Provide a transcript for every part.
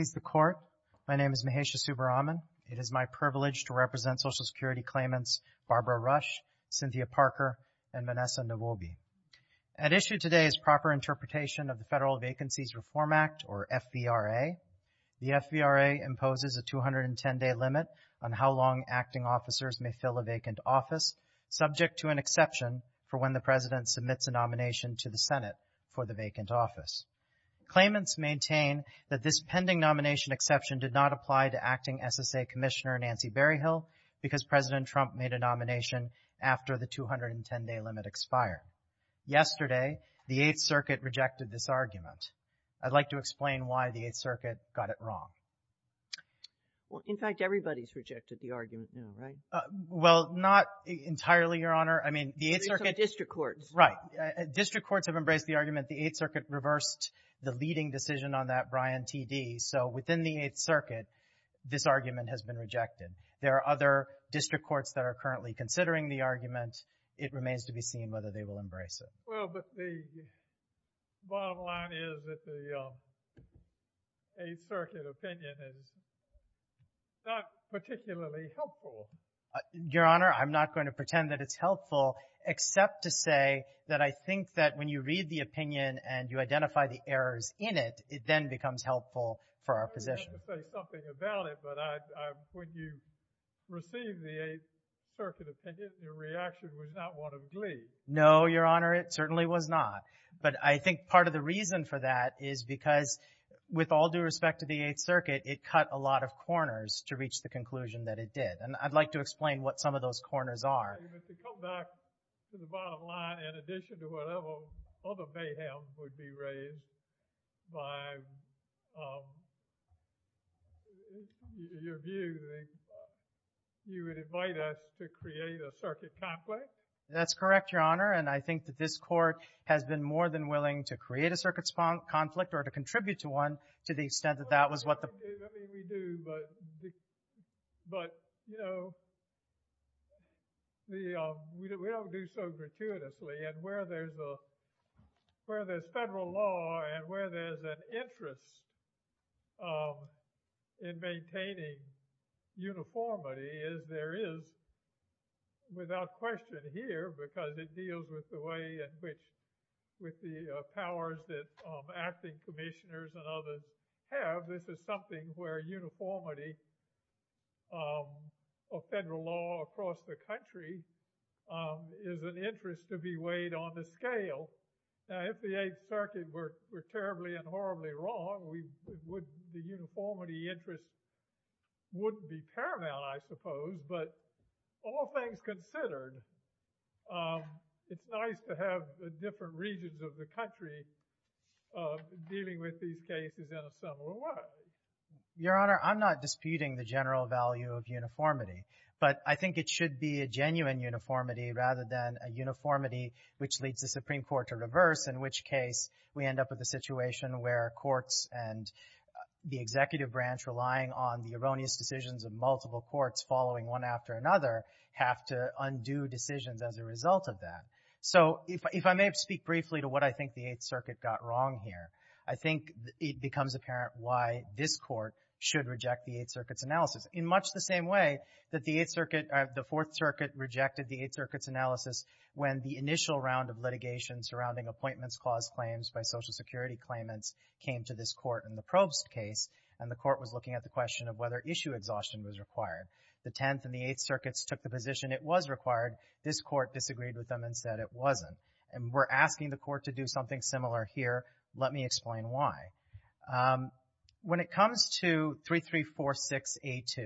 Please the Court, my name is Mahesha Subbaraman. It is my privilege to represent Social Security claimants Barbara Rush, Cynthia Parker, and Vanessa Nwobi. At issue today is proper interpretation of the Federal Vacancies Reform Act, or FVRA. The FVRA imposes a 210-day limit on how long acting officers may fill a vacant office, subject to an exception for when the President submits a nomination to the Senate for the nomination exception did not apply to Acting SSA Commissioner Nancy Berryhill because President Trump made a nomination after the 210-day limit expired. Yesterday, the 8th Circuit rejected this argument. I'd like to explain why the 8th Circuit got Barbara Rush v. Kilolo Kijakazi Well, in fact, everybody's rejected the argument now, right? Mahesha Subbaraman Well, not entirely, Your Honor. I mean, the 8th Circuit Barbara Rush v. Kilolo Kijakazi District Courts. Mahesha Subbaraman Right. District Courts have embraced the argument the 8th Circuit reversed the leading decision on that, Brian T.D. So within the 8th Circuit, this argument has been rejected. There are other District Courts that are currently considering the argument. It remains to be seen whether they will embrace it. Justice Breyer Well, but the bottom line is that the 8th Circuit opinion is not particularly helpful. Mahesha Subbaraman Your Honor, I'm not going to pretend that it's helpful, except to say that I think that when you read the opinion and you identify the errors in it, it then becomes helpful for our position. Justice Breyer I'm going to have to say something about it, but when you received the 8th Circuit opinion, your reaction was not one of glee. Mahesha Subbaraman No, Your Honor. It certainly was not. But I think part of the reason for that is because with all due respect to the 8th Circuit, it cut a lot of corners to reach the conclusion that it did. And I'd like to explain what some of those corners are. Justice Breyer But to come back to the bottom line, in addition to whatever other mayhem would be raised by your view, you would invite us to create a circuit conflict? Mahesha Subbaraman That's correct, Your Honor. And I think that this Court has been more than willing to create a circuit conflict or to contribute to one to the extent that that was what the Court intended to do. But, you know, we don't do so gratuitously. And where there's a, where there's federal law and where there's an interest in maintaining uniformity is there is, without question here, because it deals with the way in which, with the powers that acting commissioners and others have, this is something where uniformity of federal law across the country is an interest to be weighed on the scale. Now, if the 8th Circuit were terribly and horribly wrong, we would, the uniformity interest wouldn't be paramount, I suppose. But all things considered, it's nice to have different regions of the country dealing with these cases in a similar way. Matthew Meyers Your Honor, I'm not disputing the general value of uniformity. But I think it should be a genuine uniformity rather than a uniformity which leads the Supreme Court to reverse, in which case we end up with a situation where courts and the executive branch relying on the erroneous decisions of multiple courts following one after another have to undo decisions as a result of that. So if I may speak briefly to what I think the 8th Circuit got wrong here, I think it becomes apparent why this Court should reject the 8th Circuit's analysis in much the same way that the 8th Circuit, the 4th Circuit rejected the 8th Circuit's analysis when the initial round of litigation surrounding Appointments Clause claims by Social Security claimants came to this Court in the Probst case, and the Court was looking at the question of whether issue exhaustion was required. The 10th and the 8th Circuits took the position it was required. This Court disagreed with them and said it wasn't. And we're asking the Court to do something similar here. Let me explain why. When it comes to 3346A2,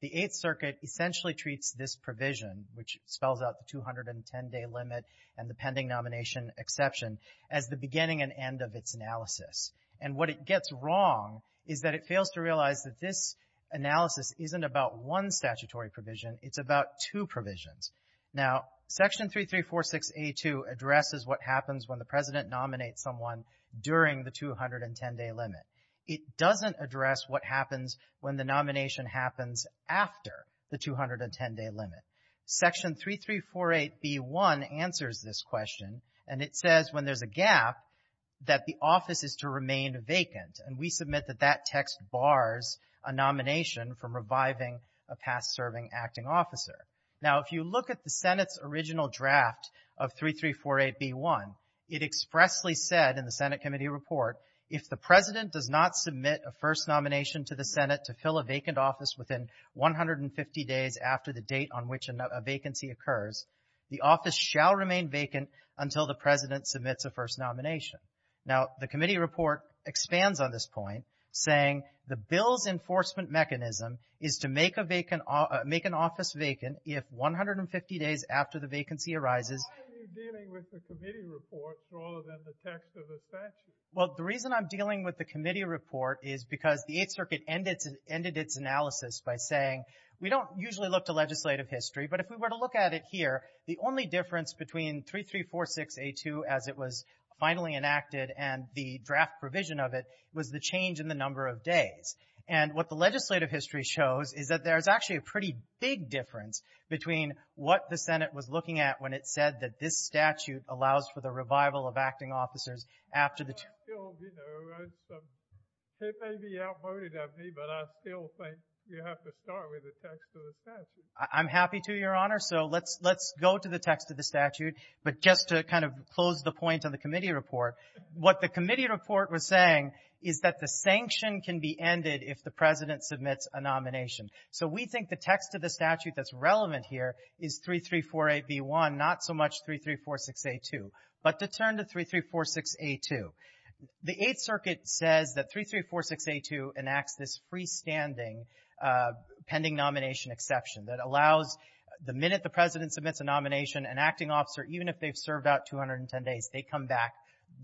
the 8th Circuit essentially treats this provision, which spells out the 210-day limit and the pending nomination exception, as the beginning and end of its analysis. And what it gets wrong is that it fails to state that the analysis isn't about one statutory provision, it's about two provisions. Now, Section 3346A2 addresses what happens when the President nominates someone during the 210-day limit. It doesn't address what happens when the nomination happens after the 210-day limit. Section 3348B1 answers this question, and it says when there's a gap that the office is to remain vacant. And we submit that that text bars a nomination from reviving a past-serving acting officer. Now, if you look at the Senate's original draft of 3348B1, it expressly said in the Senate Committee Report, if the President does not submit a first nomination to the Senate to fill a vacant office within 150 days after the date on which a vacancy occurs, the office shall remain vacant until the President submits a first nomination. Now, the Committee Report expands on this point, saying the bill's enforcement mechanism is to make an office vacant if 150 days after the vacancy arises. Why are you dealing with the Committee Report rather than the text of the statute? Well, the reason I'm dealing with the Committee Report is because the Eighth Circuit ended its analysis by saying, we don't usually look to legislative history, but if we were to draft a provision of it, it was the change in the number of days. And what the legislative history shows is that there's actually a pretty big difference between what the Senate was looking at when it said that this statute allows for the revival of acting officers after the two- Well, I feel, you know, it may be outmoded of me, but I still think you have to start with the text of the statute. I'm happy to, Your Honor. So let's go to the text of the statute. But just to kind of close the point on the Committee Report, what the Committee Report was saying is that the sanction can be ended if the President submits a nomination. So we think the text of the statute that's relevant here is 3348B1, not so much 3346A2, but to turn to 3346A2. The Eighth Circuit says that 3346A2 enacts this freestanding pending nomination exception that allows the minute the President submits a nomination, an acting officer, even if they've served about 210 days, they come back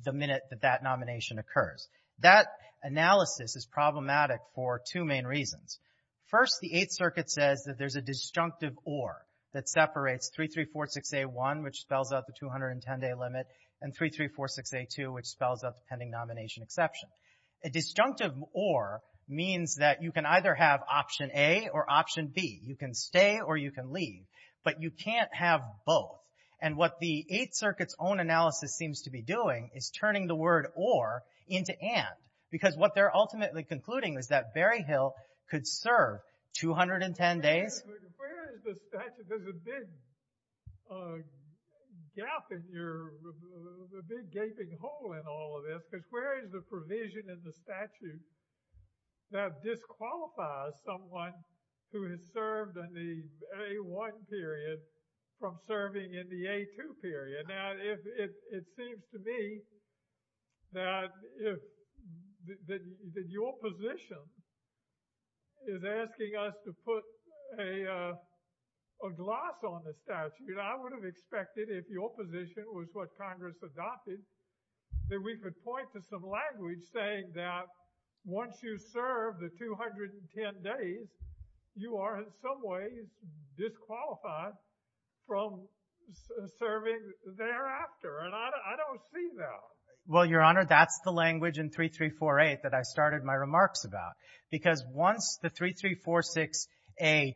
the minute that that nomination occurs. That analysis is problematic for two main reasons. First, the Eighth Circuit says that there's a disjunctive or that separates 3346A1, which spells out the 210-day limit, and 3346A2, which spells out the pending nomination exception. A disjunctive or means that you can either have option A or option B. You can stay or you can leave, but you can't have both. And what the Eighth Circuit's own analysis seems to be doing is turning the word or into and, because what they're ultimately concluding is that Berryhill could serve 210 days. But where is the statute? There's a big gap in your, a big gaping hole in all of this. Because where is the provision in the statute that disqualifies someone who has served in the A1 period from serving in the A2 period? Now, it seems to me that your position is asking us to put a gloss on the statute. I would have expected, if your position was what Congress adopted, that we could point to some language saying that once you serve the 210 days, you are, in some ways, disqualified from serving thereafter. And I don't see that. Well, Your Honor, that's the language in 3348 that I started my remarks about. Because once the 3346A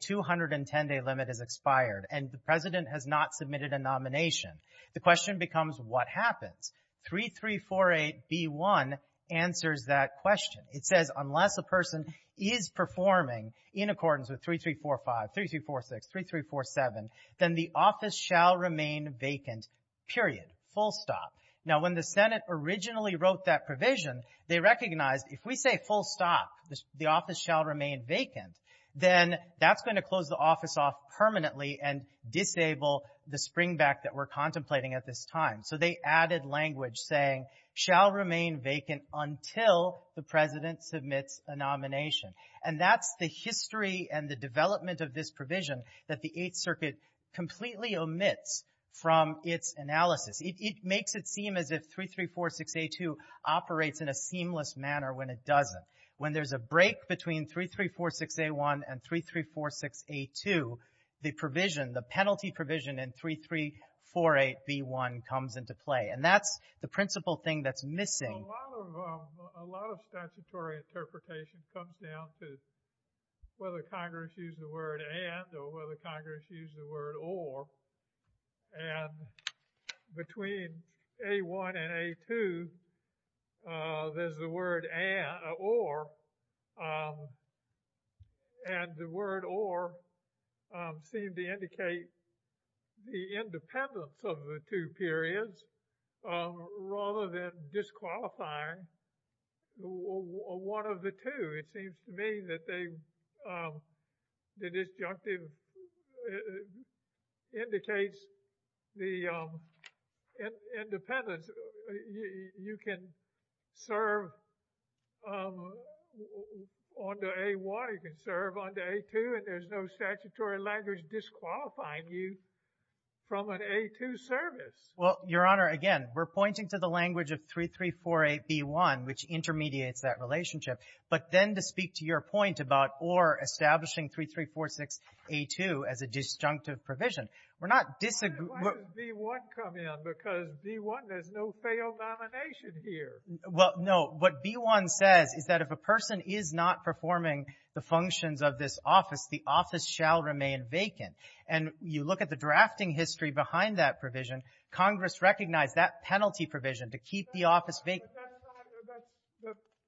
210-day limit is expired and the President has not submitted a nomination, the question becomes, what happens? 3348B1 answers that question. It says, unless a person is performing in accordance with 3345, 3346, 3347, then the office shall remain vacant, period, full stop. Now, when the Senate originally wrote that provision, they recognized, if we say full stop, the office shall remain vacant, then that's going to close the office off permanently and disable the springback that we're contemplating at this time. So they added language saying, shall remain vacant until the President submits a nomination. And that's the history and the development of this provision that the Eighth Circuit completely omits from its analysis. It makes it seem as if 3346A2 operates in a seamless manner when it doesn't. When there's a break between 3346A1 and 3346A2, the provision, the penalty provision in 3348B1 comes into play. And that's the principal thing that's missing. Well, a lot of statutory interpretation comes down to whether Congress used the word and or whether Congress used the word or. And between A1 and A2, there's the word or. And the word or seemed to indicate the independence of the two periods rather than disqualifying one of the two. It seems to me that the disjunctive indicates the independence. You can serve on to A1, you can serve on to A2, and there's no statutory language disqualifying you from an A2 service. Well, Your Honor, again, we're pointing to the language of 3348B1, which intermediates that relationship. But then to speak to your point about or establishing 3346A2 as a disjunctive provision, we're not disagreeing. Why does B1 come in? Because B1, there's no failed nomination here. Well, no. What B1 says is that if a person is not performing the functions of this office, the office shall remain vacant. And you look at the drafting history behind that provision, Congress recognized that penalty provision to keep the office vacant.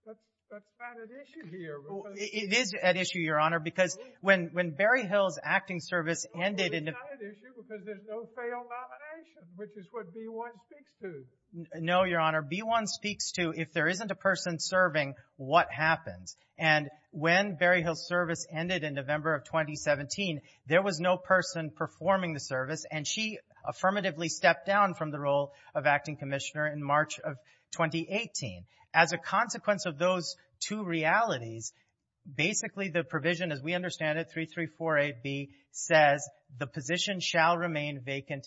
But that's not an issue here. It is an issue, Your Honor, because when Barry Hill's acting service ended in November No, it's not an issue because there's no failed nomination, which is what B1 speaks to. No, Your Honor. B1 speaks to if there isn't a person serving, what happens. And when Barry Hill's service ended in November of 2017, there was no person performing the service, and she affirmatively stepped down from the role of acting commissioner in March of 2018. As a consequence of those two realities, basically the provision, as we understand it, 3348B, says the position shall remain vacant,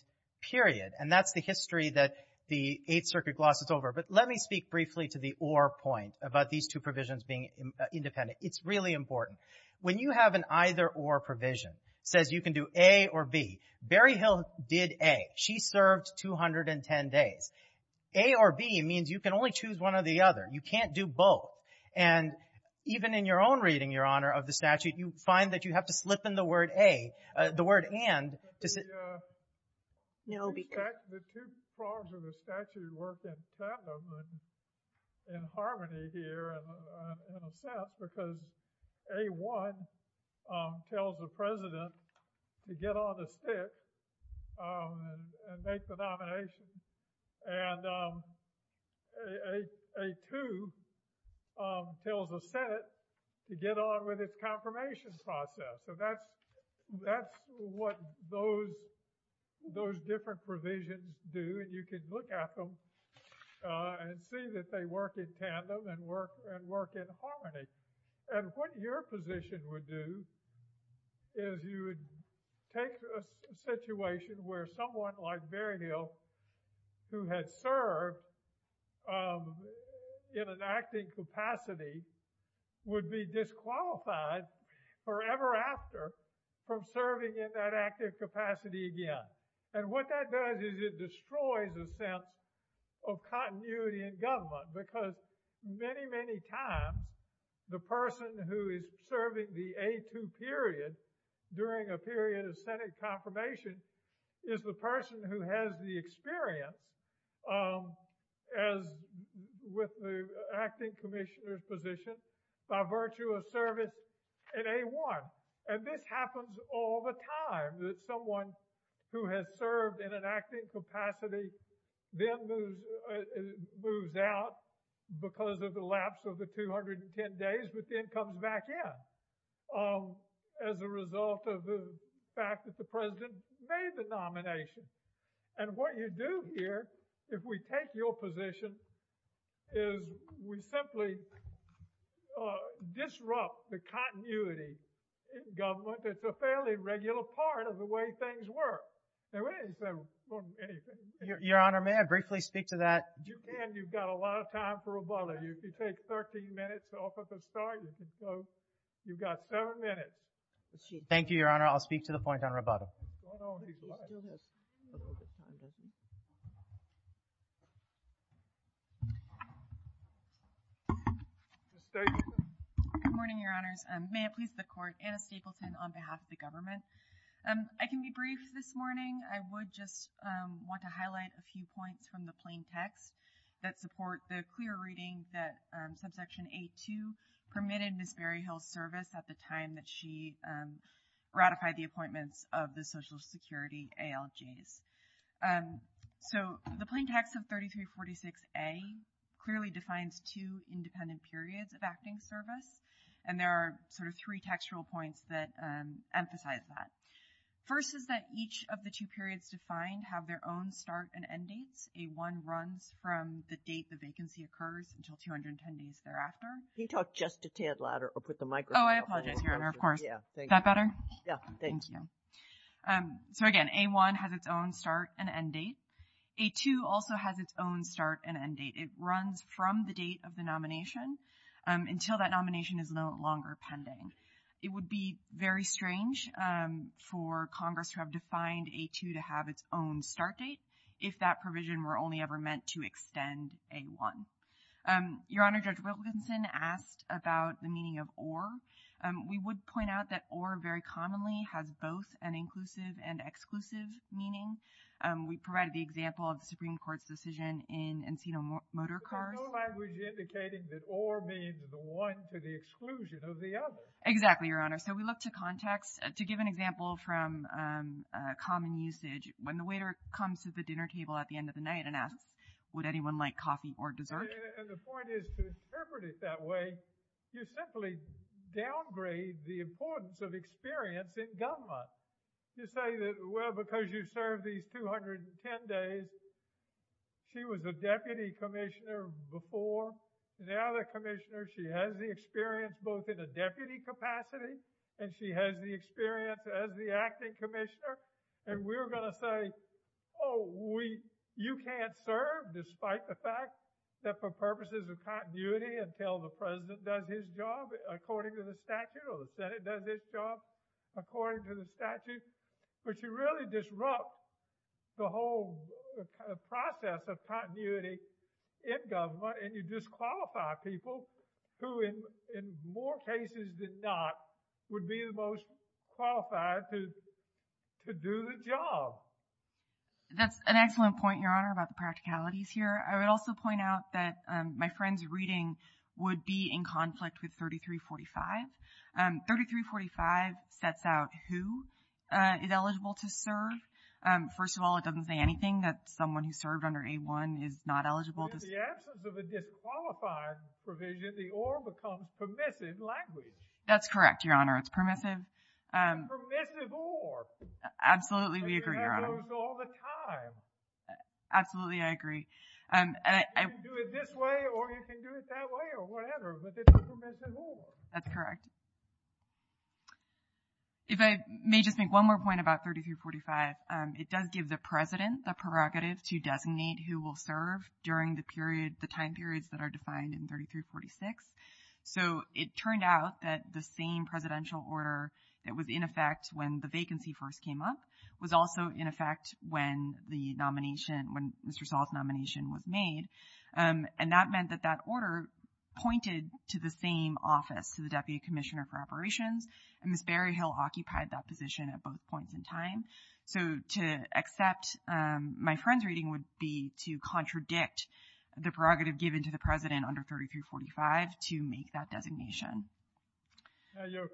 period. And that's the history that the Eighth Circuit glosses over. But let me speak briefly to the or point about these two provisions being independent. It's really important. When you have an either-or provision, it says you can do A or B. Barry Hill did A. She served 210 days. A or B means you can only choose one or the other. You can't do both. And even in your own reading, Your Honor, of the statute, you find that you have to slip in the word A, the word and, to say No, because The two parts of the statute work in harmony here, in a sense, because A1 tells the president to get on the stick and make the nomination, and A2 tells the Senate to get on with its Those different provisions do, and you can look at them and see that they work in tandem and work in harmony. And what your position would do is you would take a situation where someone like Barry Hill, who had served in an acting capacity, would be disqualified forever after from serving in that active capacity again. And what that does is it destroys a sense of continuity in government because many, many times the person who is serving the A2 period during a period of Senate confirmation is the person who has the experience as with the acting commissioner's position by virtue of service in A1. And this happens all the time, that someone who has served in an acting capacity then moves out because of the lapse of the 210 days, but then comes back in as a result of the fact that the president made the nomination. And what you do here, if we take your position, is we simply disrupt the continuity in government that's a fairly regular part of the way things work. Your Honor, may I briefly speak to that? You can. You've got a lot of time for rebuttal. You can take 13 minutes off at the start. You've got seven minutes. Thank you, Your Honor. I'll speak to the point on rebuttal. Good morning, Your Honors. May it please the Court, Anna Stapleton on behalf of the government. I can be brief this morning. I would just want to highlight a few points from the plain text that support the clear reading that subsection A2 permitted Miss Barry Hill's service at the time that she ratified the appointments of the Social Security ALJs. So the plain text of 3346A clearly defines two independent periods of acting service, and there are sort of three textual points that emphasize that. First is that each of the two periods defined have their own start and end dates. A1 runs from the date the vacancy occurs until 210 days thereafter. Can you talk just a tad louder or put the microphone up? Oh, I apologize, Your Honor, of course. Is that better? Yeah. Thank you. So again, A1 has its own start and end date. A2 also has its own start and end date. It runs from the date of the nomination until that nomination is no longer pending. It would be very strange for Congress to have defined A2 to have its own start date if that were not the case. the week as we made that difference in my case, so my father was a child. I could be otherwiseециated from the midsummer party. All right. Next is all. So a point of clarification, Your Honor, here's the legal prohibition we have that relates to nonetheless not declaring this as a multi-party act. What I'm saying is that it is not part of this conflict, so there actually is this confusion that has to be resolved in unity from the beginning, specifically from the developer's perspective. you simply downgrade the importance of experience in government. You say, well, because you served these 210 days, she was a deputy commissioner before, and now the commissioner, she has the experience both in a deputy capacity and she has the experience as the acting commissioner, and we're going to say, oh, you can't serve despite the fact that for purposes of continuity until the president does his job according to the statute or the senate does its job according to the statute. But you really disrupt the whole process of continuity in government, and you disqualify people who in more cases than not would be the most qualified to do the job. That's an excellent point, your honor, about the practicalities here. I would also point out that my friend's reading would be in conflict with 3345. 3345 sets out who is eligible to serve. First of all, it doesn't say anything that someone who served under A-1 is not eligible to serve. In the absence of a disqualified provision, the or becomes permissive language. That's correct, your honor. It's permissive. It's a permissive or. Absolutely, we agree, your honor. You can do it this way or you can do it that way or whatever, but it's a permissive or. That's correct. If I may just make one more point about 3345, it does give the president the prerogative to designate who will serve during the time periods that are defined in 3346. So it turned out that the same presidential order that was in effect when the vacancy first came up was also in effect when the nomination, when Mr. Saul's nomination was made. And that meant that that order pointed to the same office, to the deputy commissioner for operations. And Ms. Berryhill occupied that position at both points in time. So to accept my friend's reading would be to contradict the prerogative given to the president under 3345 to make that designation. Your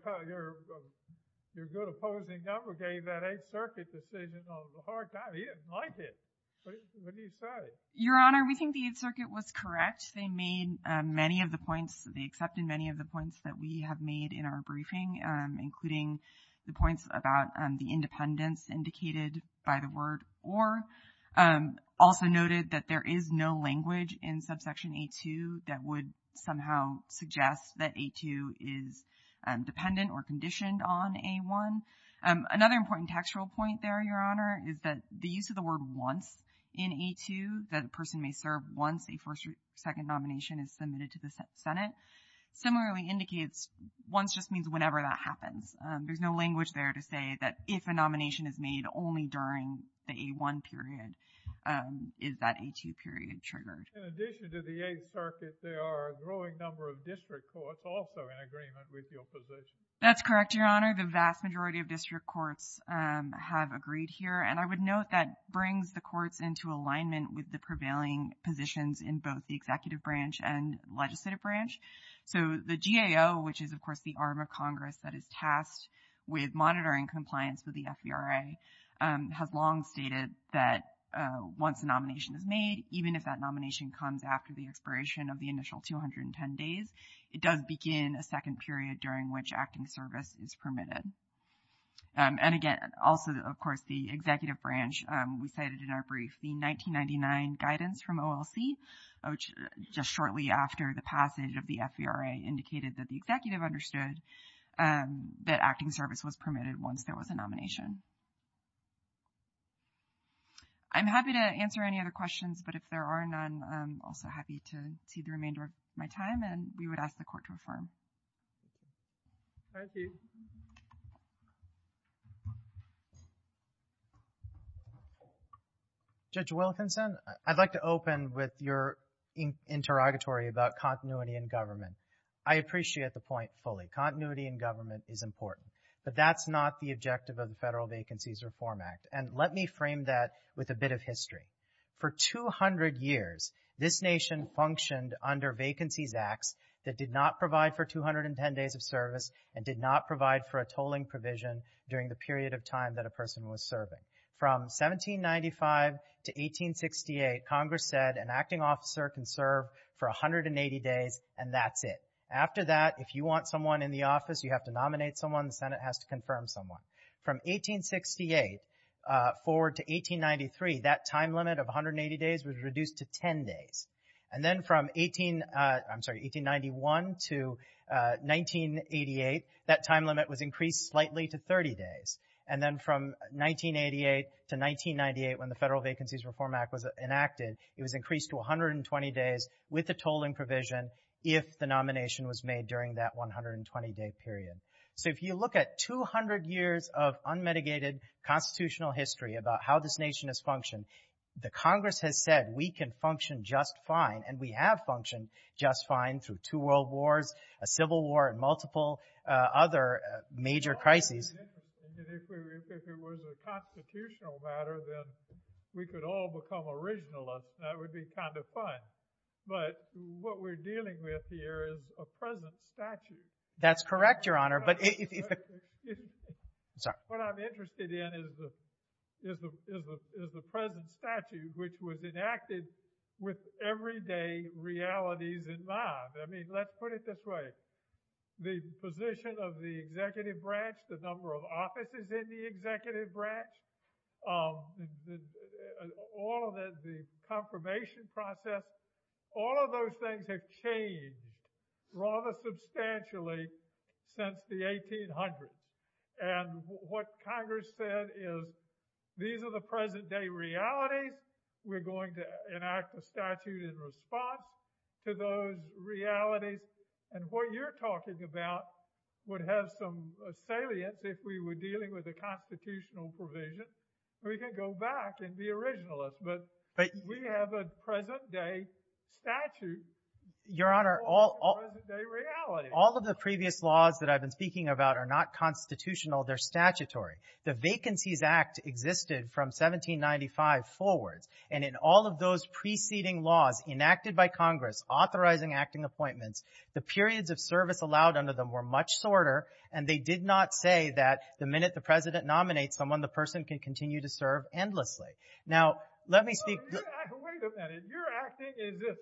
good opposing governor gave that 8th Circuit decision on the hard time. He didn't like it. What do you say? Your honor, we think the 8th Circuit was correct. They made many of the points, they accepted many of the points that we have made in our briefing, including the points about the independence indicated by the word or. Also noted that there is no language in subsection 8-2 that would somehow suggest that 8-2 is dependent or conditioned on 8-1. Another important textual point there, your honor, is that the use of the word once in 8-2 that a person may serve once a first or second nomination is submitted to the Senate similarly indicates once just means whenever that happens. There's no language there to say that if a nomination is made only during the A-1 period, is that A-2 period triggered. In addition to the 8th Circuit, there are a growing number of district courts also in agreement with your position. That's correct, your honor. The vast majority of district courts have agreed here and I would note that brings the courts into alignment with the prevailing positions in both the executive branch and legislative branch. So the GAO, which is of course the arm of Congress that is tasked with monitoring compliance with the FVRA, has long stated that once a nomination is made, even if that nomination comes after the expiration of the initial 210 days, it does begin a second period during which acting service is permitted. And again, also of course the executive branch, we cited in our brief the 1999 guidance from OLC, which just shortly after the passage of the FVRA indicated that the executive understood that acting service was permitted once there was a nomination. I'm happy to answer any other questions, but if there are none, I'm also happy to see the remainder of my time and we would ask the court to affirm. Thank you. Thank you. Judge Wilkinson, I'd like to open with your interrogatory about continuity in government. I appreciate the point fully. Continuity in government is important, but that's not the objective of the Federal Vacancies Reform Act and let me frame that with a bit of history. For 200 years, this nation functioned under vacancies acts that did not provide for 210 days of service and did not provide for a tolling provision during the period of time that a person was serving. From 1795 to 1868, Congress said an acting officer can serve for 180 days and that's it. After that, if you want someone in the office, you have to nominate someone, the Senate has to confirm someone. From 1868 forward to 1893, that time limit of 180 days was reduced to 10 days. Then from 1891 to 1988, that time limit was increased slightly to 30 days. Then from 1988 to 1998, when the Federal Vacancies Reform Act was enacted, it was increased to 120 days with a tolling provision if the nomination was made during that 120 day period. So if you look at 200 years of unmitigated constitutional history about how this nation has functioned, the Congress has said we can function just fine and we have functioned just fine through two world wars, a civil war, and multiple other major crises. If it was a constitutional matter, then we could all become originalists and that would be kind of fun. But what we're dealing with here is a present statute. What I'm interested in is the present statute which was enacted with everyday realities in mind. Let's put it this way. The position of the executive branch, the number of offices in the executive branch, the confirmation process, all of those things have changed rather substantially since the 1800s. And what Congress said is these are the present day realities. We're going to enact a statute in response to those realities. And what you're talking about would have some salience if we were dealing with a constitutional provision. We could go back and be originalists. But we have a present day statute. All of the previous laws that I've been speaking about are not constitutional, they're statutory. The Vacancies Act existed from 1795 forwards. And in all of those preceding laws enacted by Congress authorizing acting appointments, the periods of service allowed under them were much shorter and they did not say that the minute the president nominates someone, the person can continue to serve endlessly. Now, let me speak Wait a minute. You're acting as if,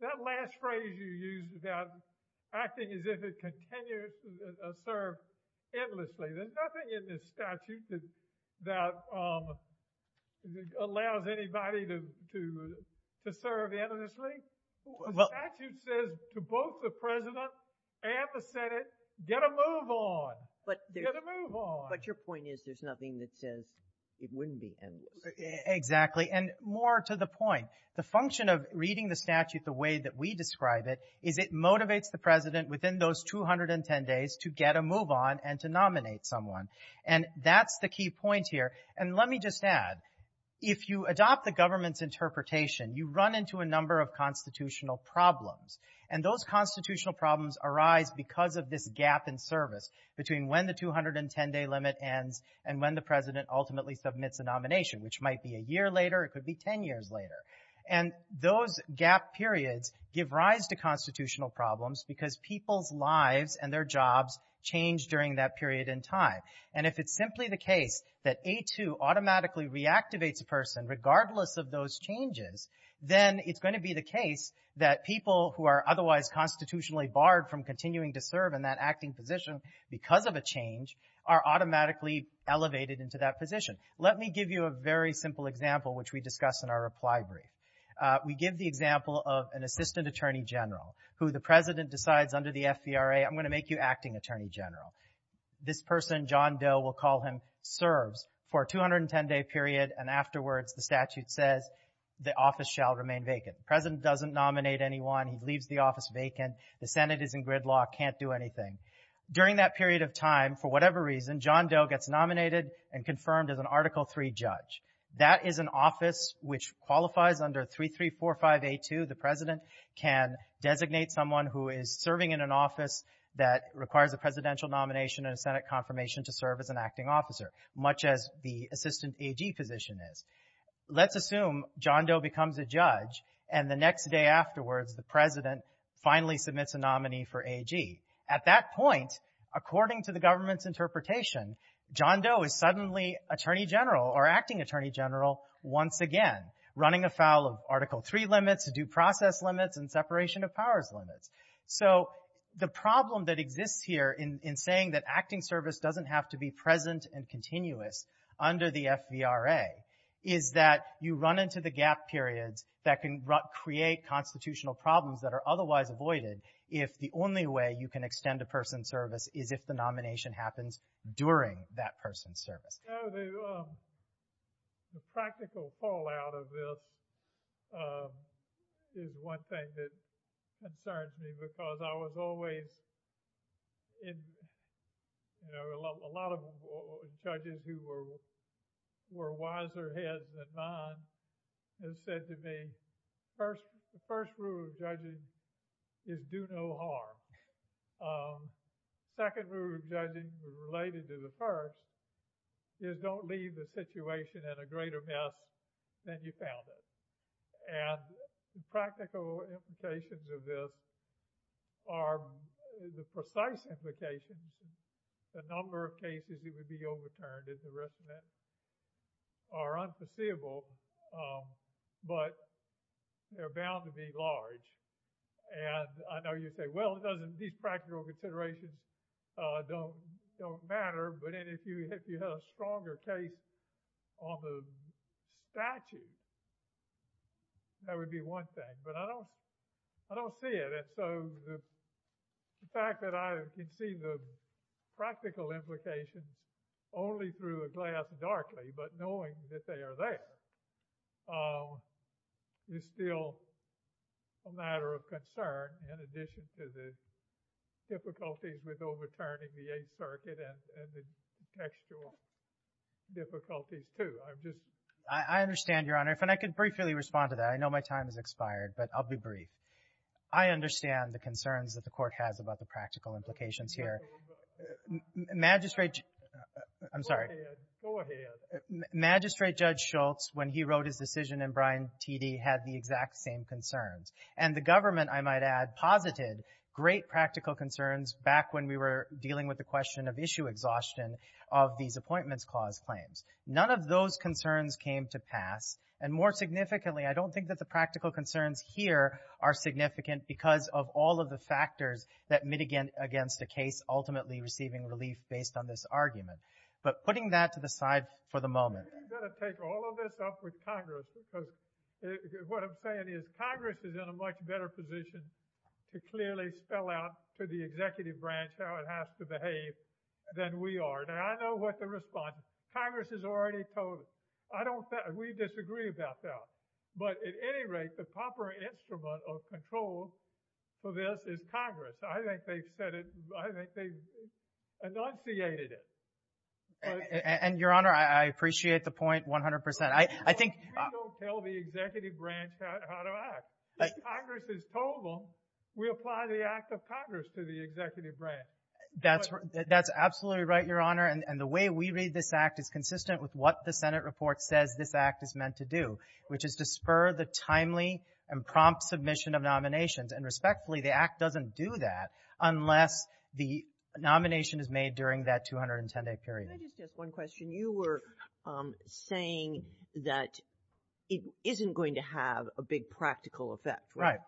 that last phrase you used about acting as if the person can continue to serve endlessly. There's nothing in this statute that allows anybody to serve endlessly. The statute says to both the president and the Senate, get a move on. Get a move on. But your point is there's nothing that says it wouldn't be endless. Exactly. And more to the 210 days to get a move on and to nominate someone. And that's the key point here. And let me just add, if you adopt the government's interpretation, you run into a number of constitutional problems. And those constitutional problems arise because of this gap in service between when the 210 day limit ends and when the president ultimately submits a nomination, which might be a year later, it could be change during that period in time. And if it's simply the case that A2 automatically reactivates a person, regardless of those changes, then it's going to be the case that people who are otherwise constitutionally barred from continuing to serve in that acting position because of a change are automatically elevated into that position. Let me give you a very simple example, which we discuss in our reply brief. We give the example of an assistant attorney general who the president decides under the FVRA, I'm going to make you acting attorney general. This person, John Doe, we'll call him, serves for a 210 day period and afterwards the statute says the office shall remain vacant. The president doesn't nominate anyone. He leaves the office vacant. The Senate is in gridlock, can't do anything. During that period of time, for whatever reason, John Doe gets nominated and confirmed as an Article III judge. That is an office which qualifies under 3345A2. The president can designate someone who is serving in an office that requires a presidential nomination and a Senate confirmation to serve as an acting officer, much as the assistant AG position is. Let's assume John Doe becomes a judge and the next day afterwards the president finally submits a nominee for AG. At that point, according to the government's interpretation, John Doe is suddenly attorney general or acting attorney general once again, running afoul of Article III limits, due process limits, and separation of powers limits. So the problem that exists here in saying that acting service doesn't have to be present and continuous under the FVRA is that you run into the gap periods that can create constitutional problems that are otherwise avoided if the only way you can extend a person's service is if the nomination happens during that person's service. The practical fallout of this is one thing that concerns me because I was always in, you know, a lot of judges who were wiser heads than mine have said to me, the first rule of judging is do no harm. The second rule of judging related to the first is don't leave the situation in a greater mess than you found it. And the practical implications of this are the precise implications, the number of cases that would be overturned and the rest of that are unforeseeable, but they're bound to be large. And I know you say, well, these practical considerations don't matter, but if you had a stronger case on the statute, that would be one thing. But I don't see it. And so the fact that I can see the practical implications only through a glass darkly, but knowing that they are there, is still a matter of concern in addition to the difficulties with overturning the Eighth Circuit and the contextual difficulties, too. I understand, Your Honor, and if I could briefly respond to that. I know my time has expired, but I'll be brief. I understand the concerns that the Court has about the practical implications here. Magistrate Judge Schultz, when he wrote his decision in Bryan T.D., had the exact same concerns. And the government, I might add, posited great practical concerns back when we were And more significantly, I don't think that the practical concerns here are significant because of all of the factors that mitigate against a case ultimately receiving relief based on this argument. But putting that to the side for the moment. I'm going to take all of this up with Congress, because what I'm saying is Congress is in a much better position to clearly spell out to the executive branch how it has to behave than we are. And I know what the response is. Congress has already told us. We disagree about that. But at any rate, the proper instrument of control for this is Congress. I think they've said it. I think they've enunciated it. And, Your Honor, I appreciate the point 100 percent. I think... Why don't you tell the executive branch how to act? Congress has told them, we apply the act of Congress to the executive branch. That's absolutely right, Your Honor. And the way we read this act is consistent with what the Senate report says this act is meant to do, which is to spur the timely and prompt submission of nominations. And respectfully, the act doesn't do that unless the nomination is made during that 210-day period. Can I just ask one question? You were saying that it isn't going to have a big practical effect. Right.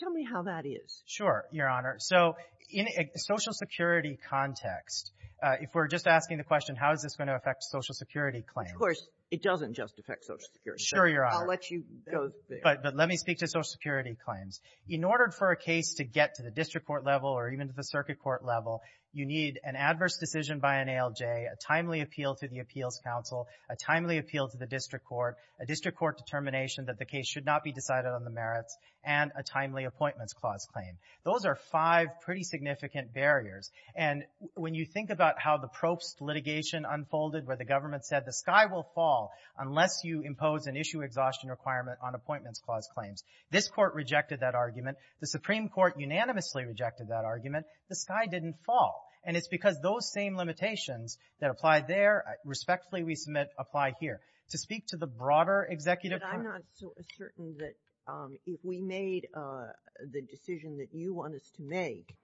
Tell me how that is. Sure, Your Honor. So in a Social Security context, if we're just asking the question, how is this going to affect Social Security claims? Of course, it doesn't just affect Social Security claims. Sure, Your Honor. I'll let you go there. But let me speak to Social Security claims. In order for a case to get to the district court level or even to the circuit court level, you need an adverse decision by an ALJ, a timely appeal to the appeals counsel, a timely appeal to the district court, a district court determination that the case should not be decided on the merits, and a timely Appointments Clause claim. Those are five pretty significant barriers. And when you think about how the Probst litigation unfolded where the government said the sky will fall unless you impose an issue exhaustion requirement on Appointments Clause claims, this Court rejected that argument. The Supreme Court unanimously rejected that argument. The sky didn't fall. And it's because those same limitations that apply there, respectfully we submit, apply here. To speak to the broader Executive Court ---- If we made the decision that you want us to make,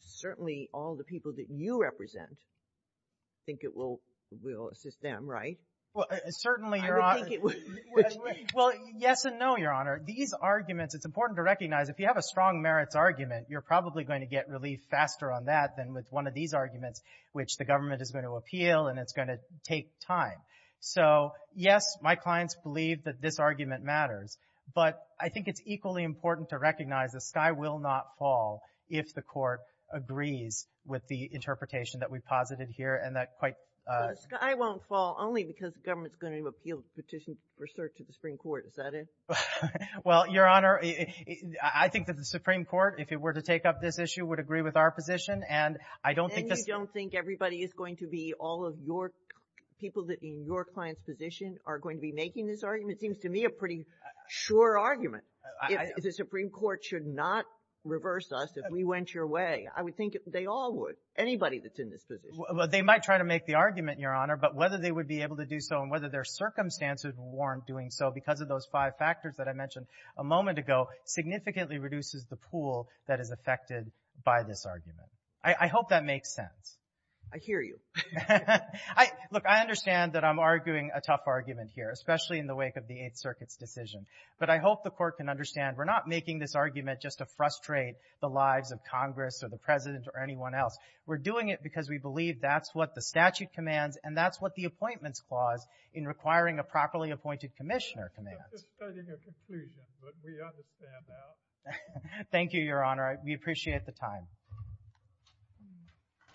certainly all the people that you represent think it will assist them, right? Certainly, Your Honor. I would think it would. Well, yes and no, Your Honor. These arguments, it's important to recognize if you have a strong merits argument, you're probably going to get relief faster on that than with one of these arguments, which the government is going to appeal and it's going to But I think it's equally important to recognize the sky will not fall if the Court agrees with the interpretation that we've posited here and that quite ---- The sky won't fall only because the government's going to appeal the petition to the Supreme Court, is that it? Well, Your Honor, I think that the Supreme Court, if it were to take up this issue, would agree with our position and I don't think this ---- And you don't think everybody is going to be all of your people in your client's position are going to be making this argument? It seems to me a pretty sure argument. The Supreme Court should not reverse us if we went your way. I would think they all would, anybody that's in this position. Well, they might try to make the argument, Your Honor, but whether they would be able to do so and whether their circumstances warrant doing so because of those five factors that I mentioned a moment ago significantly reduces the pool that is affected by this argument. I hope that makes sense. I hear you. Look, I understand that I'm arguing a tough argument here, especially in the wake of the Eighth Circuit's decision, but I hope the Court can understand we're not making this argument just to frustrate the lives of Congress or the President or anyone else. We're doing it because we believe that's what the statute commands and that's what the appointments clause in requiring a properly appointed commissioner commands. I'm just starting a conclusion, but we understand that. Thank you, Your Honor. We appreciate the time.